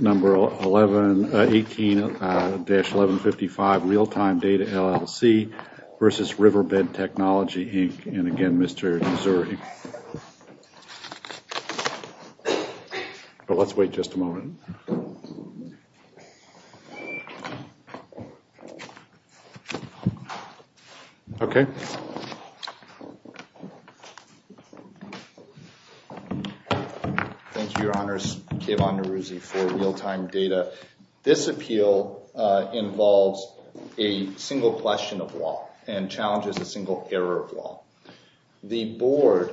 Number 1118-1155, Realtime Data, LLC v. Riverbed Technology, Inc. And again, Mr. Zuri. But let's wait just a moment. Okay. Thank you. Thank you, Your Honors. Kevan Neruzzi for Realtime Data. This appeal involves a single question of law and challenges a single error of law. The board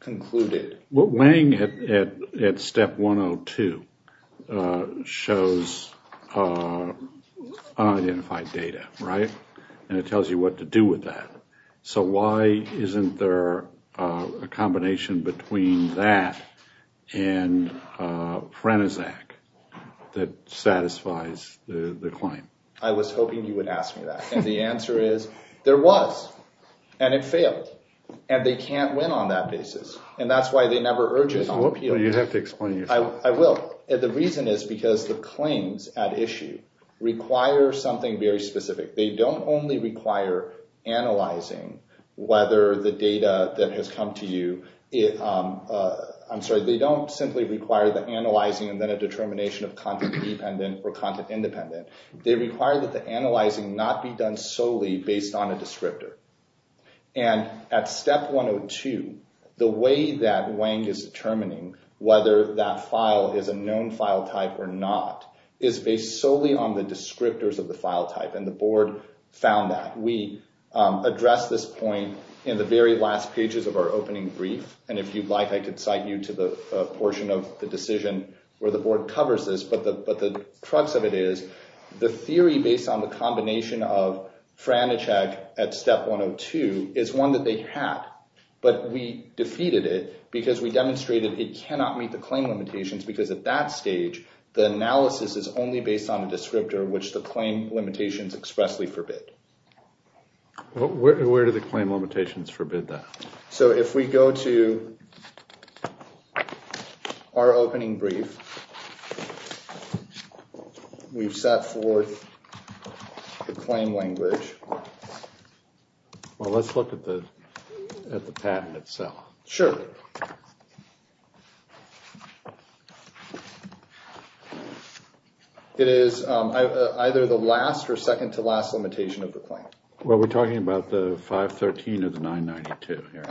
concluded... What Wang, at step 102, shows unidentified data, right? And it tells you what to do with that. So why isn't there a combination between that and Franizac that satisfies the claim? I was hoping you would ask me that. And the answer is, there was. And it failed. And they can't win on that basis. And that's why they never urge it on the appeal. You have to explain yourself. I will. And the reason is because the claims at issue require something very specific. They don't only require analyzing whether the data that has come to you... I'm sorry. They don't simply require the analyzing and then a determination of content-dependent or content-independent. They require that the analyzing not be done solely based on a descriptor. And at step 102, the way that Wang is determining whether that file is a known file type or not is based solely on the descriptors of the file type. And the board found that. We addressed this point in the very last pages of our opening brief. And if you'd like, I could cite you to the portion of the decision where the board covers this. But the crux of it is, the theory based on the combination of Franizac at step 102 is one that they had. But we defeated it because we demonstrated it cannot meet the claim limitations. Because at that stage, the analysis is only based on a descriptor, which the claim limitations expressly forbid. Where do the claim limitations forbid that? So if we go to our opening brief, we've set forth the claim language. Well, let's look at the patent itself. Sure. It is either the last or second to last limitation of the claim. Well, we're talking about the 513 or the 992 here.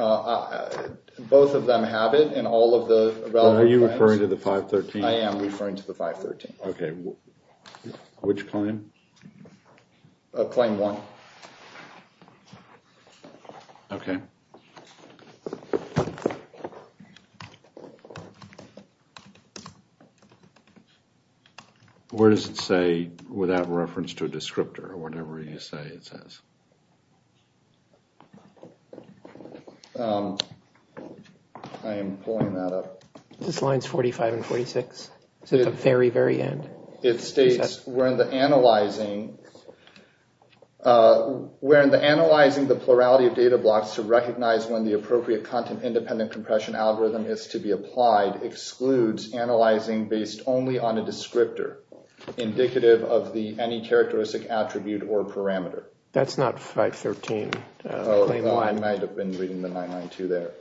Both of them have it in all of the relevant claims. Are you referring to the 513? I am referring to the 513. OK. Which claim? Claim one. OK. OK. Where does it say, without reference to a descriptor, whatever you say it says? I am pulling that up. This line's 45 and 46. It's at the very, very end. It states, we're in the analyzing the plurality of data blocks to recognize when the appropriate content independent compression algorithm is to be applied excludes analyzing based only on a descriptor indicative of the any characteristic attribute or parameter. That's not 513. Oh, no. I might have been reading the 992 there.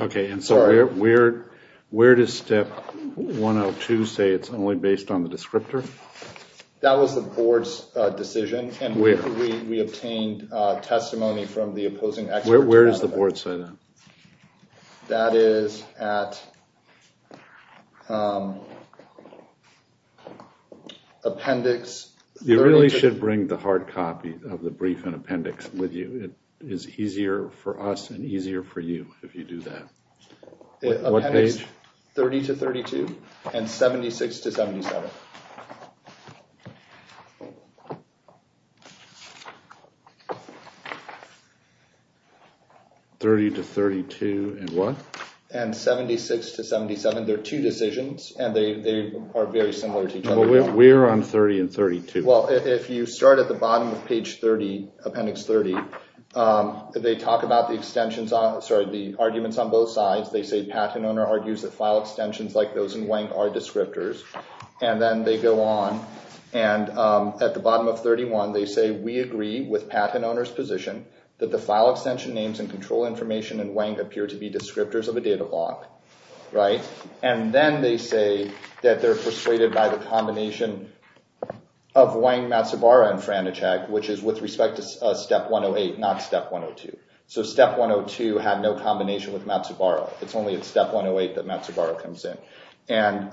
OK. And so where does step 102 say it's only based on the descriptor? That was the board's decision. And where? We obtained testimony from the opposing expert. Where does the board say that? That is at appendix 30. You really should bring the hard copy of the brief and appendix with you. It is easier for us and easier for you if you do that. What page? 30 to 32 and 76 to 77. 30 to 32 and what? And 76 to 77. They're two decisions. And they are very similar to each other. We're on 30 and 32. Well, if you start at the bottom of page 30, appendix 30, they talk about the extensions, sorry, the arguments on both sides. They say patent owner argues that file extensions like those in WANC are descriptors. And then they go on. And at the bottom of 31, they say, we agree with patent owner's position that the file extension names and control information in WANC appear to be descriptors of a data block. Right? And then they say that they're persuaded by the combination of WANC, Matsubara, and Franichak, which is with respect to step 108, not step 102. So step 102 had no combination with Matsubara. It's only at step 108 that Matsubara comes in. And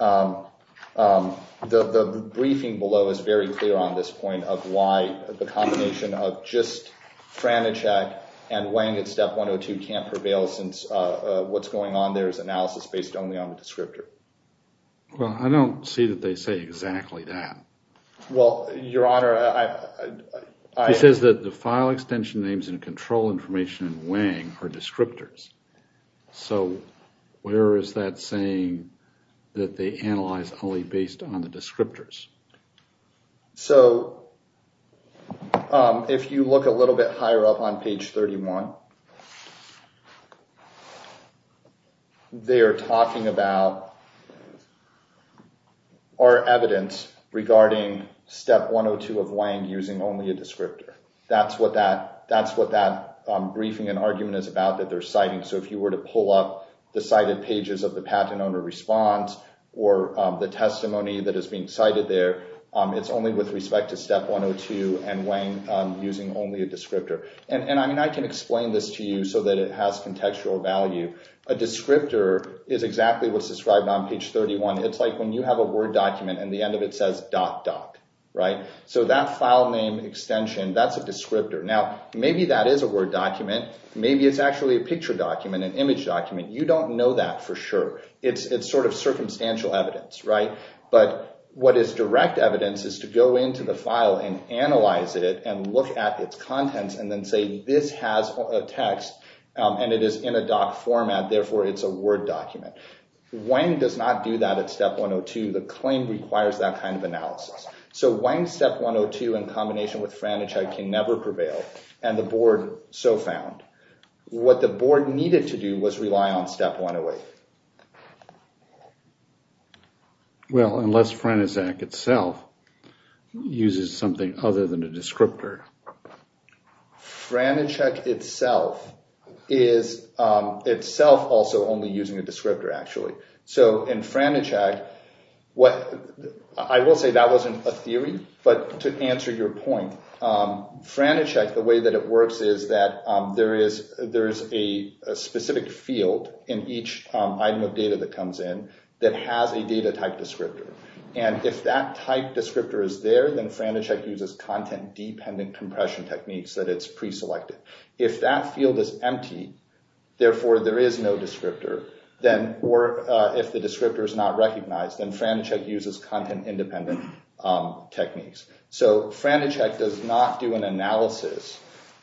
the briefing below is very clear on this point of why the combination of just Franichak and WANC at step 102 can't prevail since what's going on there is analysis based only on the descriptor. Well, I don't see that they say exactly that. Well, Your Honor, I... He says that the file extension names and control information in WANC are descriptors. So where is that saying that they analyze only based on the descriptors? So if you look a little bit higher up on page 31, they're talking about our evidence regarding step 102 of WANC using only a descriptor. That's what that briefing and argument is about, that they're citing. So if you were to pull up the cited pages of the patent owner response or the testimony that is being cited there, it's only with respect to step 102 and WANC using only a descriptor. And, I mean, I can explain this to you so that it has contextual value. A descriptor is exactly what's described on page 31. It's like when you have a Word document and the end of it says .doc, right? So that file name extension, that's a descriptor. Now, maybe that is a Word document. Maybe it's actually a picture document, an image document. You don't know that for sure. It's sort of circumstantial evidence, right? But what is direct evidence is to go into the file and analyze it and look at its contents and then say this has a text and it is in a .doc format, therefore it's a Word document. WANC does not do that at step 102. The claim requires that kind of analysis. So WANC step 102, in combination with Franichide, can never prevail, and the board so found. What the board needed to do was rely on step 108. Well, unless Franichide itself uses something other than a descriptor. Franichide itself is itself also only using a descriptor, actually. So in Franichide, I will say that wasn't a theory, but to answer your point, Franichide, the way that it works is that there is a specific field in each item of data that comes in that has a data type descriptor. And if that type descriptor is there, then Franichide uses content-dependent compression techniques that it's preselected. If that field is empty, therefore there is no descriptor, or if the descriptor is not recognized, then Franichide uses content-independent techniques. So Franichide does not do an analysis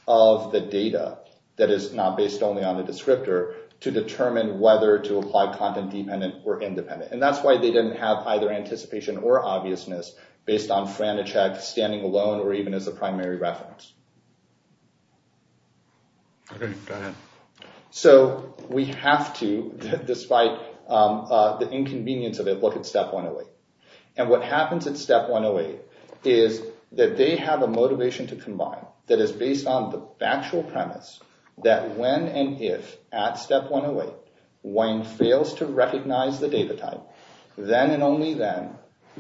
of the data that is not based only on the descriptor to determine whether to apply content-dependent or independent. And that's why they didn't have either anticipation or obviousness based on Franichide standing alone or even as a primary reference. Okay, go ahead. So we have to, despite the inconvenience of it, look at step 108. And what happens at step 108 is that they have a motivation to combine that is based on the factual premise that when and if, at step 108, Wang fails to recognize the data type, then and only then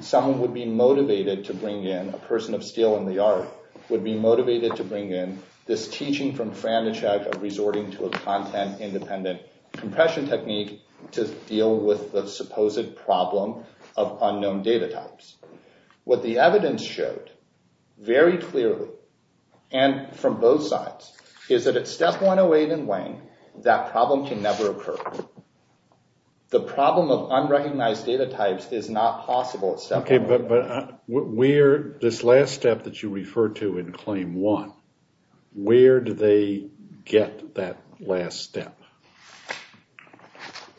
someone would be motivated to bring in, a person of steel in the art, would be motivated to bring in this teaching from Franichide of resorting to a content-independent compression technique to deal with the supposed problem of unknown data types. What the evidence showed very clearly, and from both sides, is that at step 108 in Wang, that problem can never occur. The problem of unrecognized data types is not possible at step 108. Okay, but this last step that you referred to in claim one, where do they get that last step?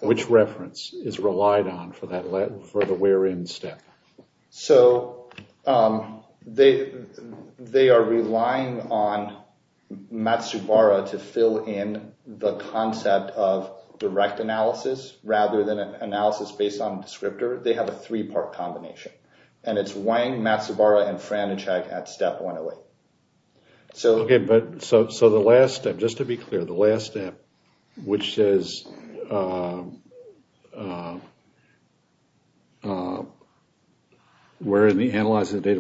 Which reference is relied on for the where-in step? So they are relying on Matsubara to fill in the concept of direct analysis rather than an analysis based on descriptor. They have a three-part combination. And it's Wang, Matsubara, and Franichide at step 108. Okay, but so the last step, just to be clear, the last step, which says, where in the analysis of data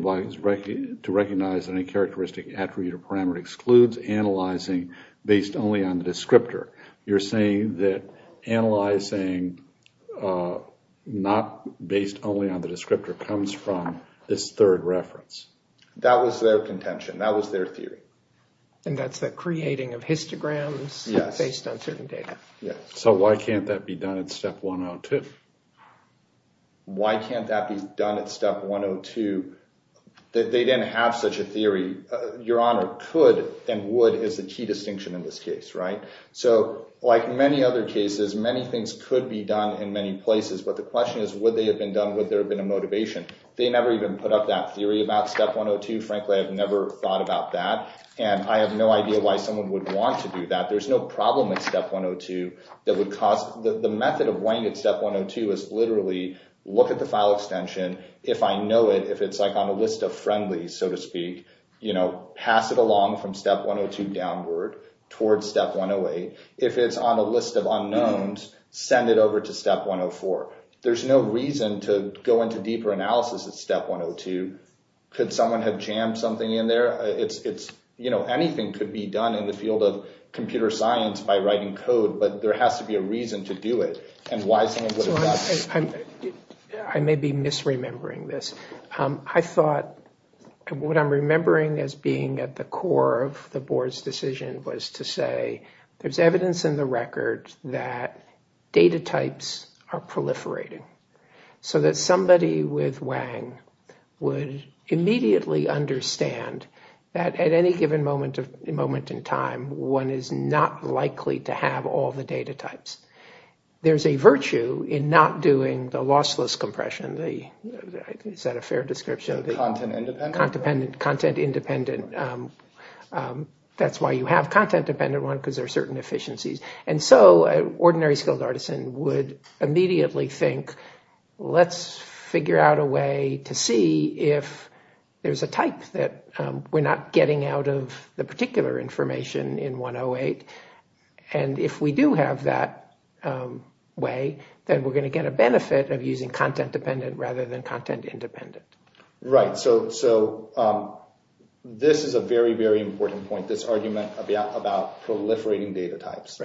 to recognize any characteristic, attribute, or parameter excludes analyzing based only on the descriptor. You're saying that analyzing not based only on the descriptor comes from this third reference. That was their contention. That was their theory. And that's the creating of histograms based on certain data. So why can't that be done at step 102? Why can't that be done at step 102? They didn't have such a theory. Your Honor, could and would is the key distinction in this case, right? So like many other cases, many things could be done in many places. But the question is, would they have been done? Would there have been a motivation? They never even put up that theory about step 102. Frankly, I've never thought about that. And I have no idea why someone would want to do that. There's no problem at step 102 that would cause, the method of weighing at step 102 is literally look at the file extension. If I know it, if it's like on a list of friendly, so to speak, you know, pass it along from step 102 downward towards step 108. If it's on a list of unknowns, send it over to step 104. There's no reason to go into deeper analysis at step 102. Could someone have jammed something in there? It's, you know, anything could be done in the field of computer science by writing code, but there has to be a reason to do it. And why someone would have done it. I may be misremembering this. I thought, what I'm remembering as being at the core of the board's decision was to say, there's evidence in the record that data types are proliferating. So that somebody with Wang would immediately understand that at any given moment in time, one is not likely to have all the data types. There's a virtue in not doing the lossless compression. Is that a fair description? Content independent. Content independent. That's why you have content dependent one because there are certain efficiencies. And so an ordinary skilled artisan would immediately think, let's figure out a way to see if there's a type that we're not getting out of the particular information in 108. And if we do have that way, then we're going to get a benefit of using content dependent rather than content independent. Right. So this is a very, very important point, this argument about proliferating data types.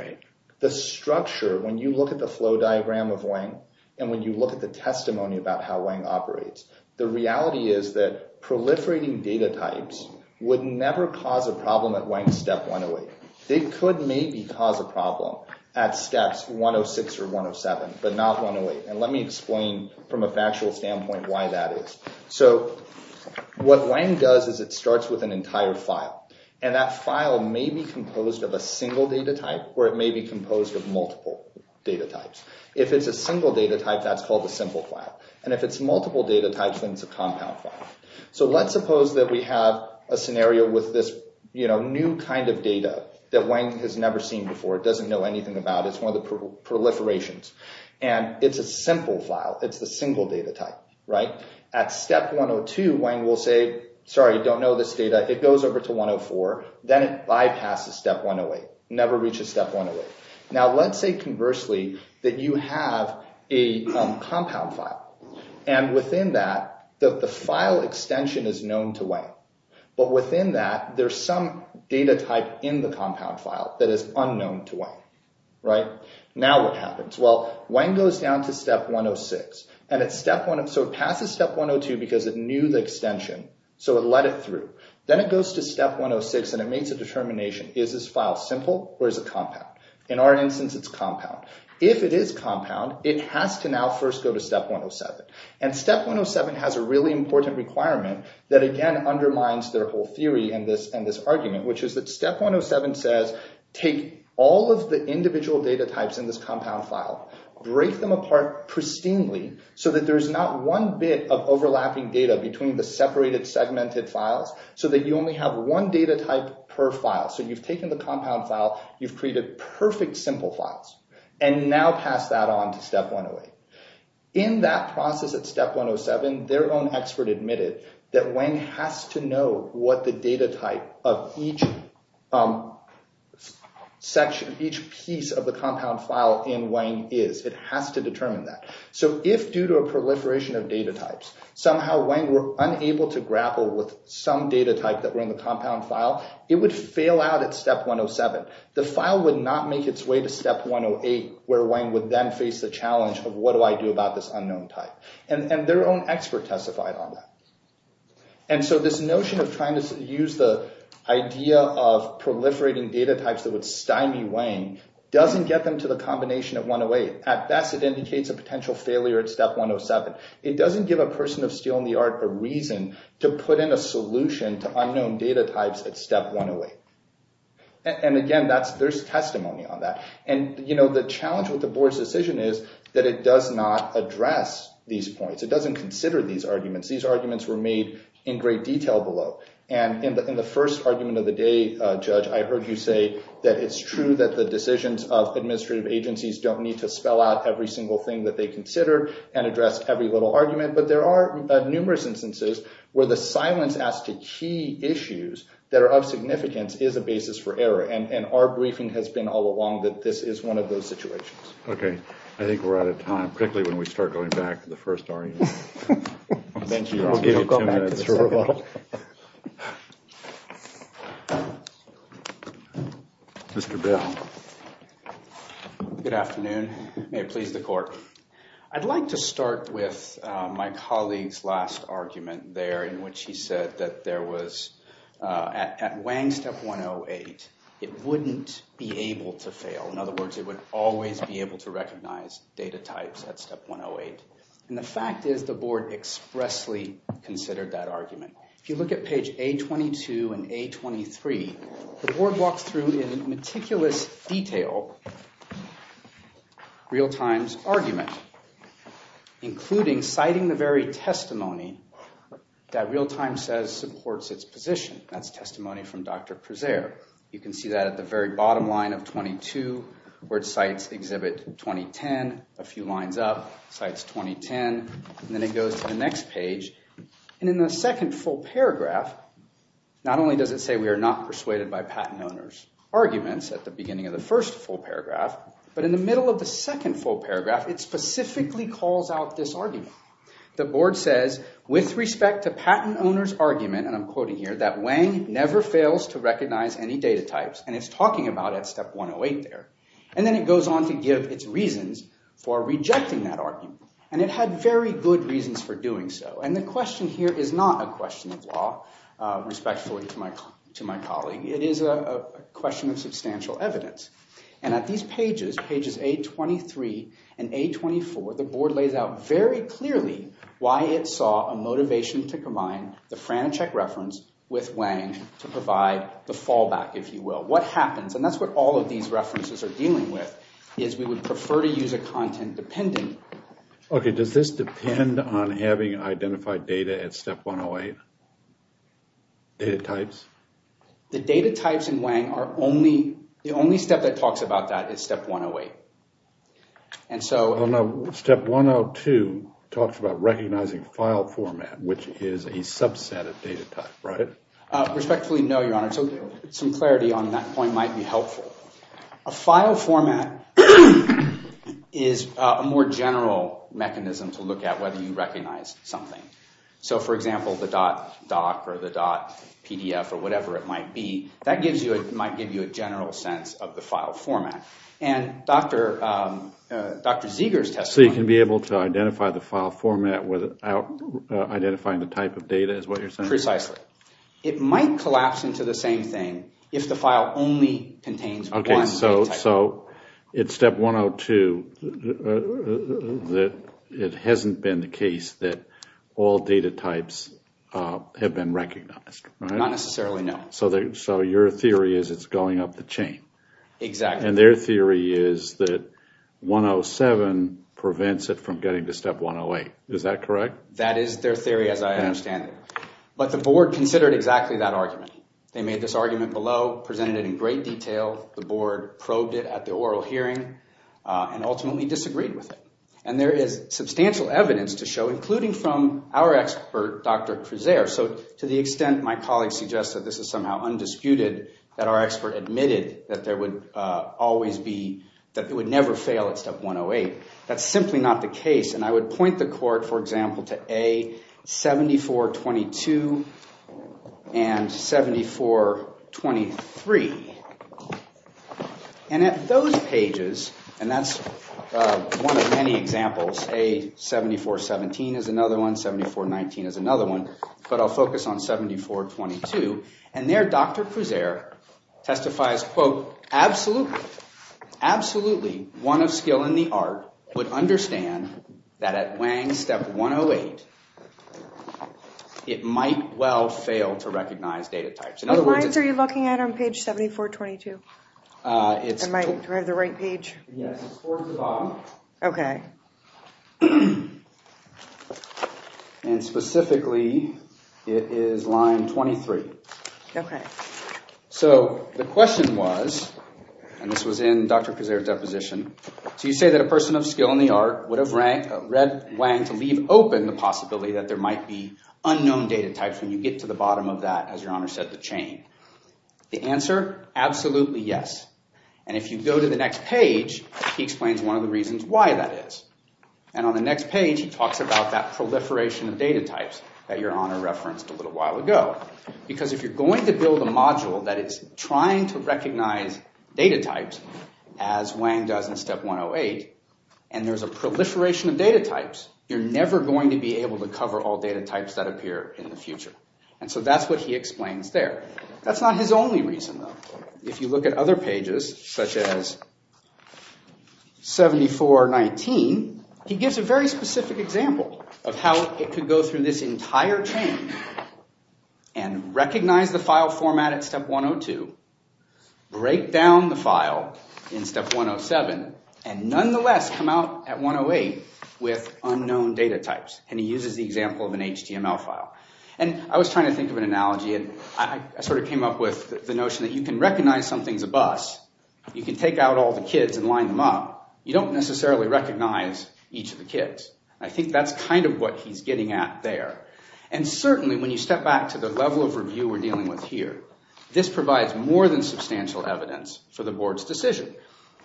The structure, when you look at the flow diagram of Wang, and when you look at the testimony about how Wang operates, the reality is that proliferating data types would never cause a problem at Wang's step 108. They could maybe cause a problem at steps 106 or 107, but not 108. And let me explain from a factual standpoint why that is. So what Wang does is it starts with an entire file and that file may be composed of a single data type or it may be composed of multiple data types. If it's a single data type, that's called a simple file. And if it's multiple data types, then it's a compound file. So let's suppose that we have a scenario with this new kind of data that Wang has never seen before. It doesn't know anything about it. It's one of the proliferations. And it's a simple file. It's the single data type, right? At step 102, Wang will say, sorry, I don't know this data. It goes over to 104. Then it bypasses step 108, never reaches step 108. Now let's say conversely that you have a compound file and within that, the file extension is known to Wang. But within that, there's some data type in the compound file that is unknown to Wang, right? Now what happens? Well, Wang goes down to step 106. So it passes step 102 because it knew the extension, so it let it through. Then it goes to step 106 and it makes a determination. Is this file simple or is it compound? In our instance, it's compound. If it is compound, it has to now first go to step 107. And step 107 has a really important requirement that again undermines their whole theory and this argument, which is that step 107 says, take all of the individual data types in this compound file, break them apart pristinely so that there's not one bit of overlapping data between the separated segmented files so that you only have one data type per file. So you've taken the compound file, you've created perfect simple files, and now pass that on to step 108. In that process at step 107, their own expert admitted that Wang has to know what the data type of each section, each piece of the compound file in Wang is. It has to determine that. So if due to a proliferation of data types, somehow Wang were unable to grapple with some data type that were in the compound file, it would fail out at step 107. The file would not make its way to step 108, where Wang would then face the challenge of what do I do about this unknown type? And their own expert testified on that. And so this notion of trying to use the idea of proliferating data types that would stymie Wang doesn't get them to the combination of 108. At best, it indicates a potential failure at step 107. It doesn't give a person of steel in the art a reason to put in a solution to unknown data types at step 108. And again, there's testimony on that. And the challenge with the board's decision is that it does not address these points. It doesn't consider these arguments. These arguments were made in great detail below. And in the first argument of the day, Judge, I heard you say that it's true that the decisions of administrative agencies don't need to spell out every single thing that they consider and address every little argument. But there are numerous instances where the silence as to key issues that are of significance is a basis for error. And our briefing has been all along that this is one of those situations. OK. I think we're out of time. Quickly, when we start going back to the first argument. I'll give you two minutes. Mr. Bell. Good afternoon. May it please the court. I'd like to start with my colleague's last argument there in which he said that there was, at Wang step 108, it wouldn't be able to fail. In other words, it would always be able to recognize data types at step 108. And the fact is the board expressly considered that argument. If you look at page A22 and A23, the board walks through in meticulous detail Realtime's argument, including citing the very testimony that Realtime says supports its position. That's testimony from Dr. Prezer. You can see that at the very bottom line of 22, where it cites exhibit 2010. A few lines up, cites 2010. And then it goes to the next page. And in the second full paragraph, not only does it say we are not persuaded by patent owners' arguments at the beginning of the first full paragraph, but in the middle of the second full paragraph, it specifically calls out this argument. The board says, with respect to patent owners' argument, and I'm quoting here, that Wang never fails to recognize any data types. And it's talking about it at step 108 there. And then it goes on to give its reasons for rejecting that argument. And it had very good reasons for doing so. And the question here is not a question of law, respectfully to my colleague. It is a question of substantial evidence. And at these pages, pages 823 and 824, the board lays out very clearly why it saw a motivation to combine the Franachek reference with Wang to provide the fallback, if you will. What happens, and that's what all of these references are dealing with, is we would prefer to use a content dependent. OK. Does this depend on having identified data at step 108? Data types? The data types in Wang are only, the only step that talks about that is step 108. And so. Step 102 talks about recognizing file format, which is a subset of data type, right? Respectfully, no, your honor. So some clarity on that point might be helpful. A file format is a more general mechanism to look at whether you recognize something. So for example, the .doc or the .pdf or whatever it might be, that might give you a general sense of the file format. And Dr. Zeger's testimony. So you can be able to identify the file format without identifying the type of data is what you're saying? Precisely. It might collapse into the same thing if the file only contains one data type. OK, so it's step 102 that it hasn't been the case that all data types have been recognized, right? Not necessarily, no. So your theory is it's going up the chain. Exactly. And their theory is that 107 prevents it from getting to step 108. Is that correct? That is their theory as I understand it. But the board considered exactly that argument. They made this argument below, presented it in great detail. The board probed it at the oral hearing and ultimately disagreed with it. And there is substantial evidence to show, including from our expert, Dr. Creuzer. So to the extent my colleague suggests that this is somehow undisputed, that our expert admitted that there would always be, that it would never fail at step 108. That's simply not the case. And I would point the court, for example, to A7422 and 7423. And at those pages, and that's one of many examples, A7417 is another one. 7419 is another one. But I'll focus on 7422. So absolutely, absolutely one of skill in the art would understand that at Wang's step 108, it might well fail to recognize data types. What lines are you looking at on page 7422? Do I have the right page? Yes, it's towards the bottom. OK. And specifically, it is line 23. OK. So the question was, and this was in Dr. Creuzer's deposition, so you say that a person of skill in the art would have read Wang to leave open the possibility that there might be unknown data types when you get to the bottom of that, as Your Honor said, the chain. The answer, absolutely yes. And if you go to the next page, he explains one of the reasons why that is. And on the next page, he talks about that proliferation of data types that Your Honor referenced a little while ago. Because if you're going to build a module that is trying to recognize data types, as Wang does in step 108, and there's a proliferation of data types, you're never going to be able to cover all data types that appear in the future. And so that's what he explains there. That's not his only reason, though. If you look at other pages, such as 7419, he gives a very specific example of how it could go through this entire chain and recognize the file format at step 102, break down the file in step 107, and nonetheless come out at 108 with unknown data types. And he uses the example of an HTML file. And I was trying to think of an analogy, and I sort of came up with the notion that you can recognize something's a bus. You can take out all the kids and line them up. You don't necessarily recognize each of the kids. And I think that's kind of what he's getting at there. And certainly, when you step back to the level of review we're dealing with here, this provides more than substantial evidence for the board's decision.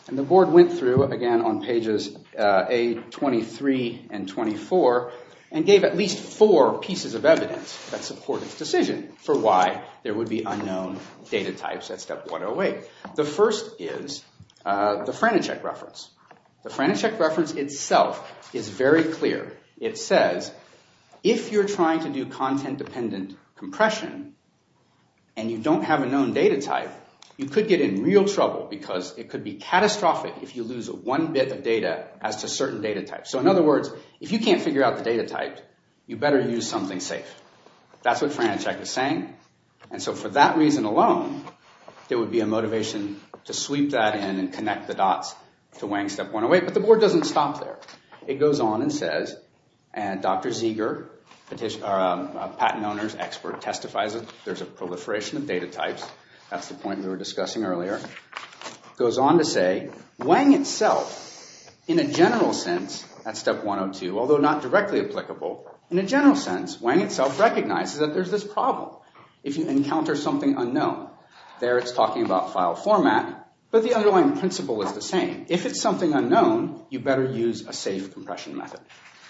And the board went through, again, on pages A23 and 24 and gave at least four pieces of evidence that support its decision for why there would be unknown data types at step 108. The first is the Franischek reference. The Franischek reference itself is very clear. It says, if you're trying to do content-dependent compression and you don't have a known data type, you could get in real trouble because it could be catastrophic if you lose one bit of data as to certain data types. So in other words, if you can't figure out the data type, you better use something safe. That's what Franischek is saying. And so for that reason alone, there would be a motivation to sweep that in and connect the dots to Wang step 108. But the board doesn't stop there. It goes on and says, and Dr. Zeger, a patent owner's expert, testifies that there's a proliferation of data types. That's the point we were discussing earlier. It goes on to say, Wang itself, in a general sense, at step 102, although not directly applicable, in a general sense, Wang itself recognizes that there's this problem. If you encounter something unknown, there it's talking about file format, but the underlying principle is the same. If it's something unknown, you better use a safe compression method.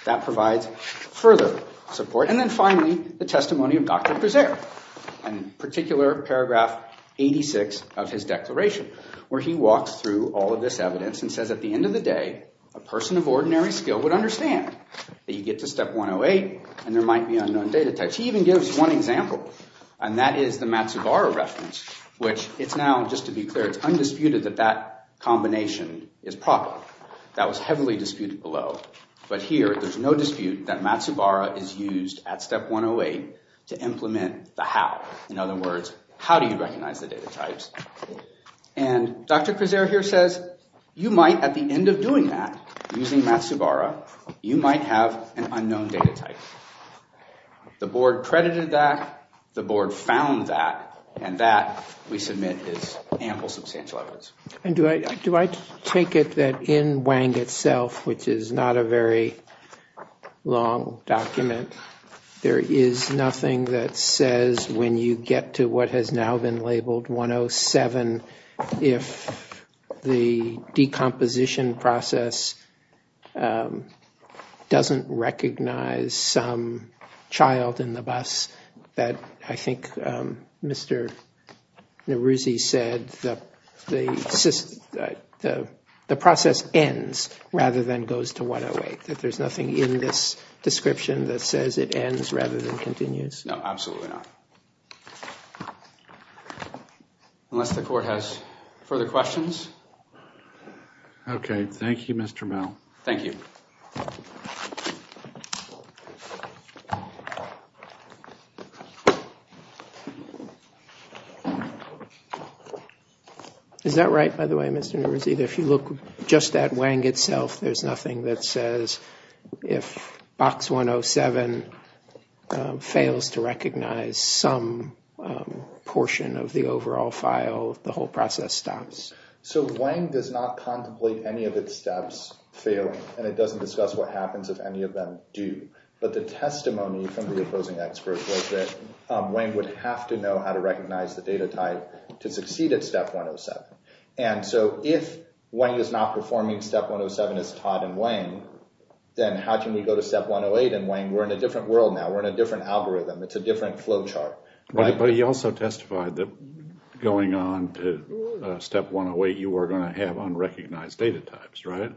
That provides further support. And then finally, the testimony of Dr. Brazier, in particular, paragraph 86 of his declaration, where he walks through all of this evidence and says, at the end of the day, a person of ordinary skill would understand that you get to step 108 and there might be unknown data types. He even gives one example, and that is the Matsubara reference, which it's now, just to be clear, it's undisputed that that combination is proper. That was heavily disputed below. But here, there's no dispute that Matsubara is used at step 108 to implement the how. In other words, how do you recognize the data types? And Dr. Cresare here says, you might, at the end of doing that, using Matsubara, you might have an unknown data type. The board credited that, the board found that, and that, we submit, is ample substantial evidence. And do I take it that in Wang itself, which is not a very long document, there is nothing that says, when you get to what has now been labeled 107, if the decomposition process doesn't recognize some child in the bus, that I think Mr. Neruzzi said, the process ends rather than goes to 108? That there's nothing in this description that says it ends rather than continues? No, absolutely not. Unless the court has further questions. OK, thank you, Mr. Mel. Thank you. Thank you. Is that right, by the way, Mr. Neruzzi, that if you look just at Wang itself, there's nothing that says, if box 107 fails to recognize some portion of the overall file, the whole process stops? So Wang does not contemplate any of its steps failing. And it doesn't discuss what happens if any of them do. But the testimony from the opposing experts was that Wang would have to know how to recognize the data type to succeed at step 107. And so if Wang is not performing step 107 as taught in Wang, then how can we go to step 108 in Wang? We're in a different world now. We're in a different algorithm. It's a different flow chart. But he also testified that going on to step 108, you were going to have unrecognized data types, right?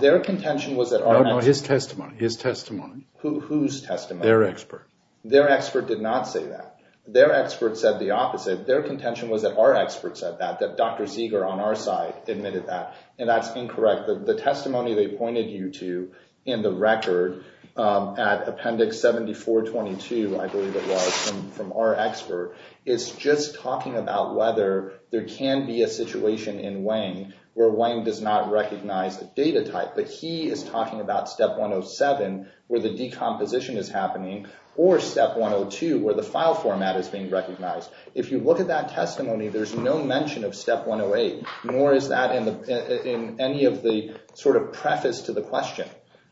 Their contention was that our next step was their testimony. Whose testimony? Their expert. Their expert did not say that. Their expert said the opposite. Their contention was that our expert said that, that Dr. Zeger on our side admitted that. And that's incorrect. The testimony they pointed you to in the record at appendix 7422, I believe it was, from our expert, is just talking about whether there can be a situation in Wang where Wang does not recognize the data type. But he is talking about step 107, where the decomposition is happening, or step 102, where the file format is being recognized. If you look at that testimony, there's no mention of step 108, nor is that in any of the sort of preface to the question.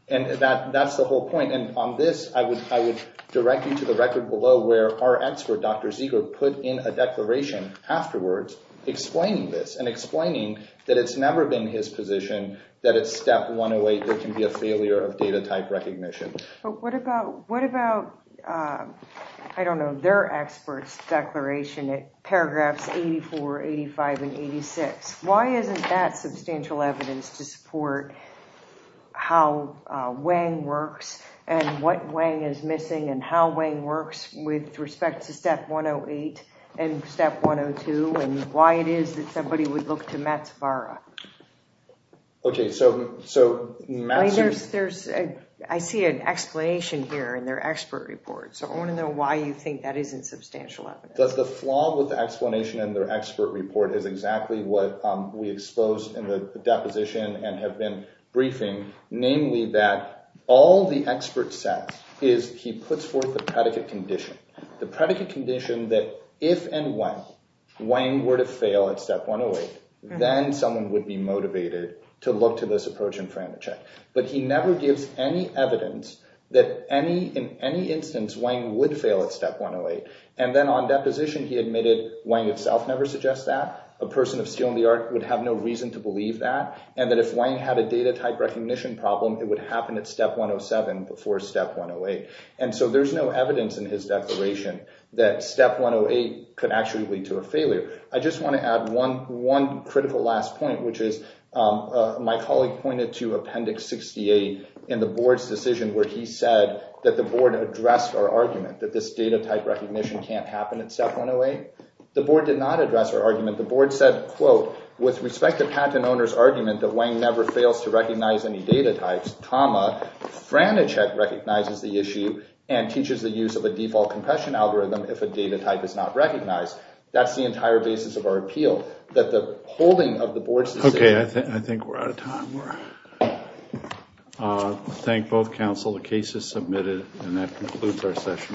And that's the whole point. And on this, I would direct you to the record below where our expert, Dr. Zeger, put in a declaration afterwards explaining this and explaining that it's never been his position that at step 108 there can be a failure of data type recognition. But what about, I don't know, their expert's declaration at paragraphs 84, 85, and 86? Why isn't that substantial evidence to support how Wang works and what Wang is missing and how Wang works with respect to step 108 and step 102 and why it is that somebody would look to Mats Vara? Okay, so Mats... I see an explanation here in their expert report, so I want to know why you think that isn't substantial evidence. The flaw with the explanation in their expert report is exactly what we exposed in the deposition and have been briefing, namely that all the expert says is he puts forth the predicate condition. The predicate condition that if and when Wang were to fail at step 108, then someone would be motivated to look to this approach and frame a check. But he never gives any evidence that in any instance, Wang would fail at step 108. And then on deposition, he admitted Wang itself never suggests that. A person of steel in the art would have no reason to believe that and that if Wang had a data type recognition problem, it would happen at step 107 before step 108. And so there's no evidence in his declaration that step 108 could actually lead to a failure. I just want to add one critical last point, which is my colleague pointed to Appendix 68 in the board's decision where he said that the board addressed our argument that this data type recognition can't happen at step 108. The board did not address our argument. The board said, quote, with respect to patent owner's argument that Wang never fails to recognize any data types, comma, Franichek recognizes the issue and teaches the use of a default compression algorithm if a data type is not recognized. That's the entire basis of our appeal, that the holding of the board's decision— Okay, I think we're out of time. Thank both counsel. The case is submitted. And that concludes our session.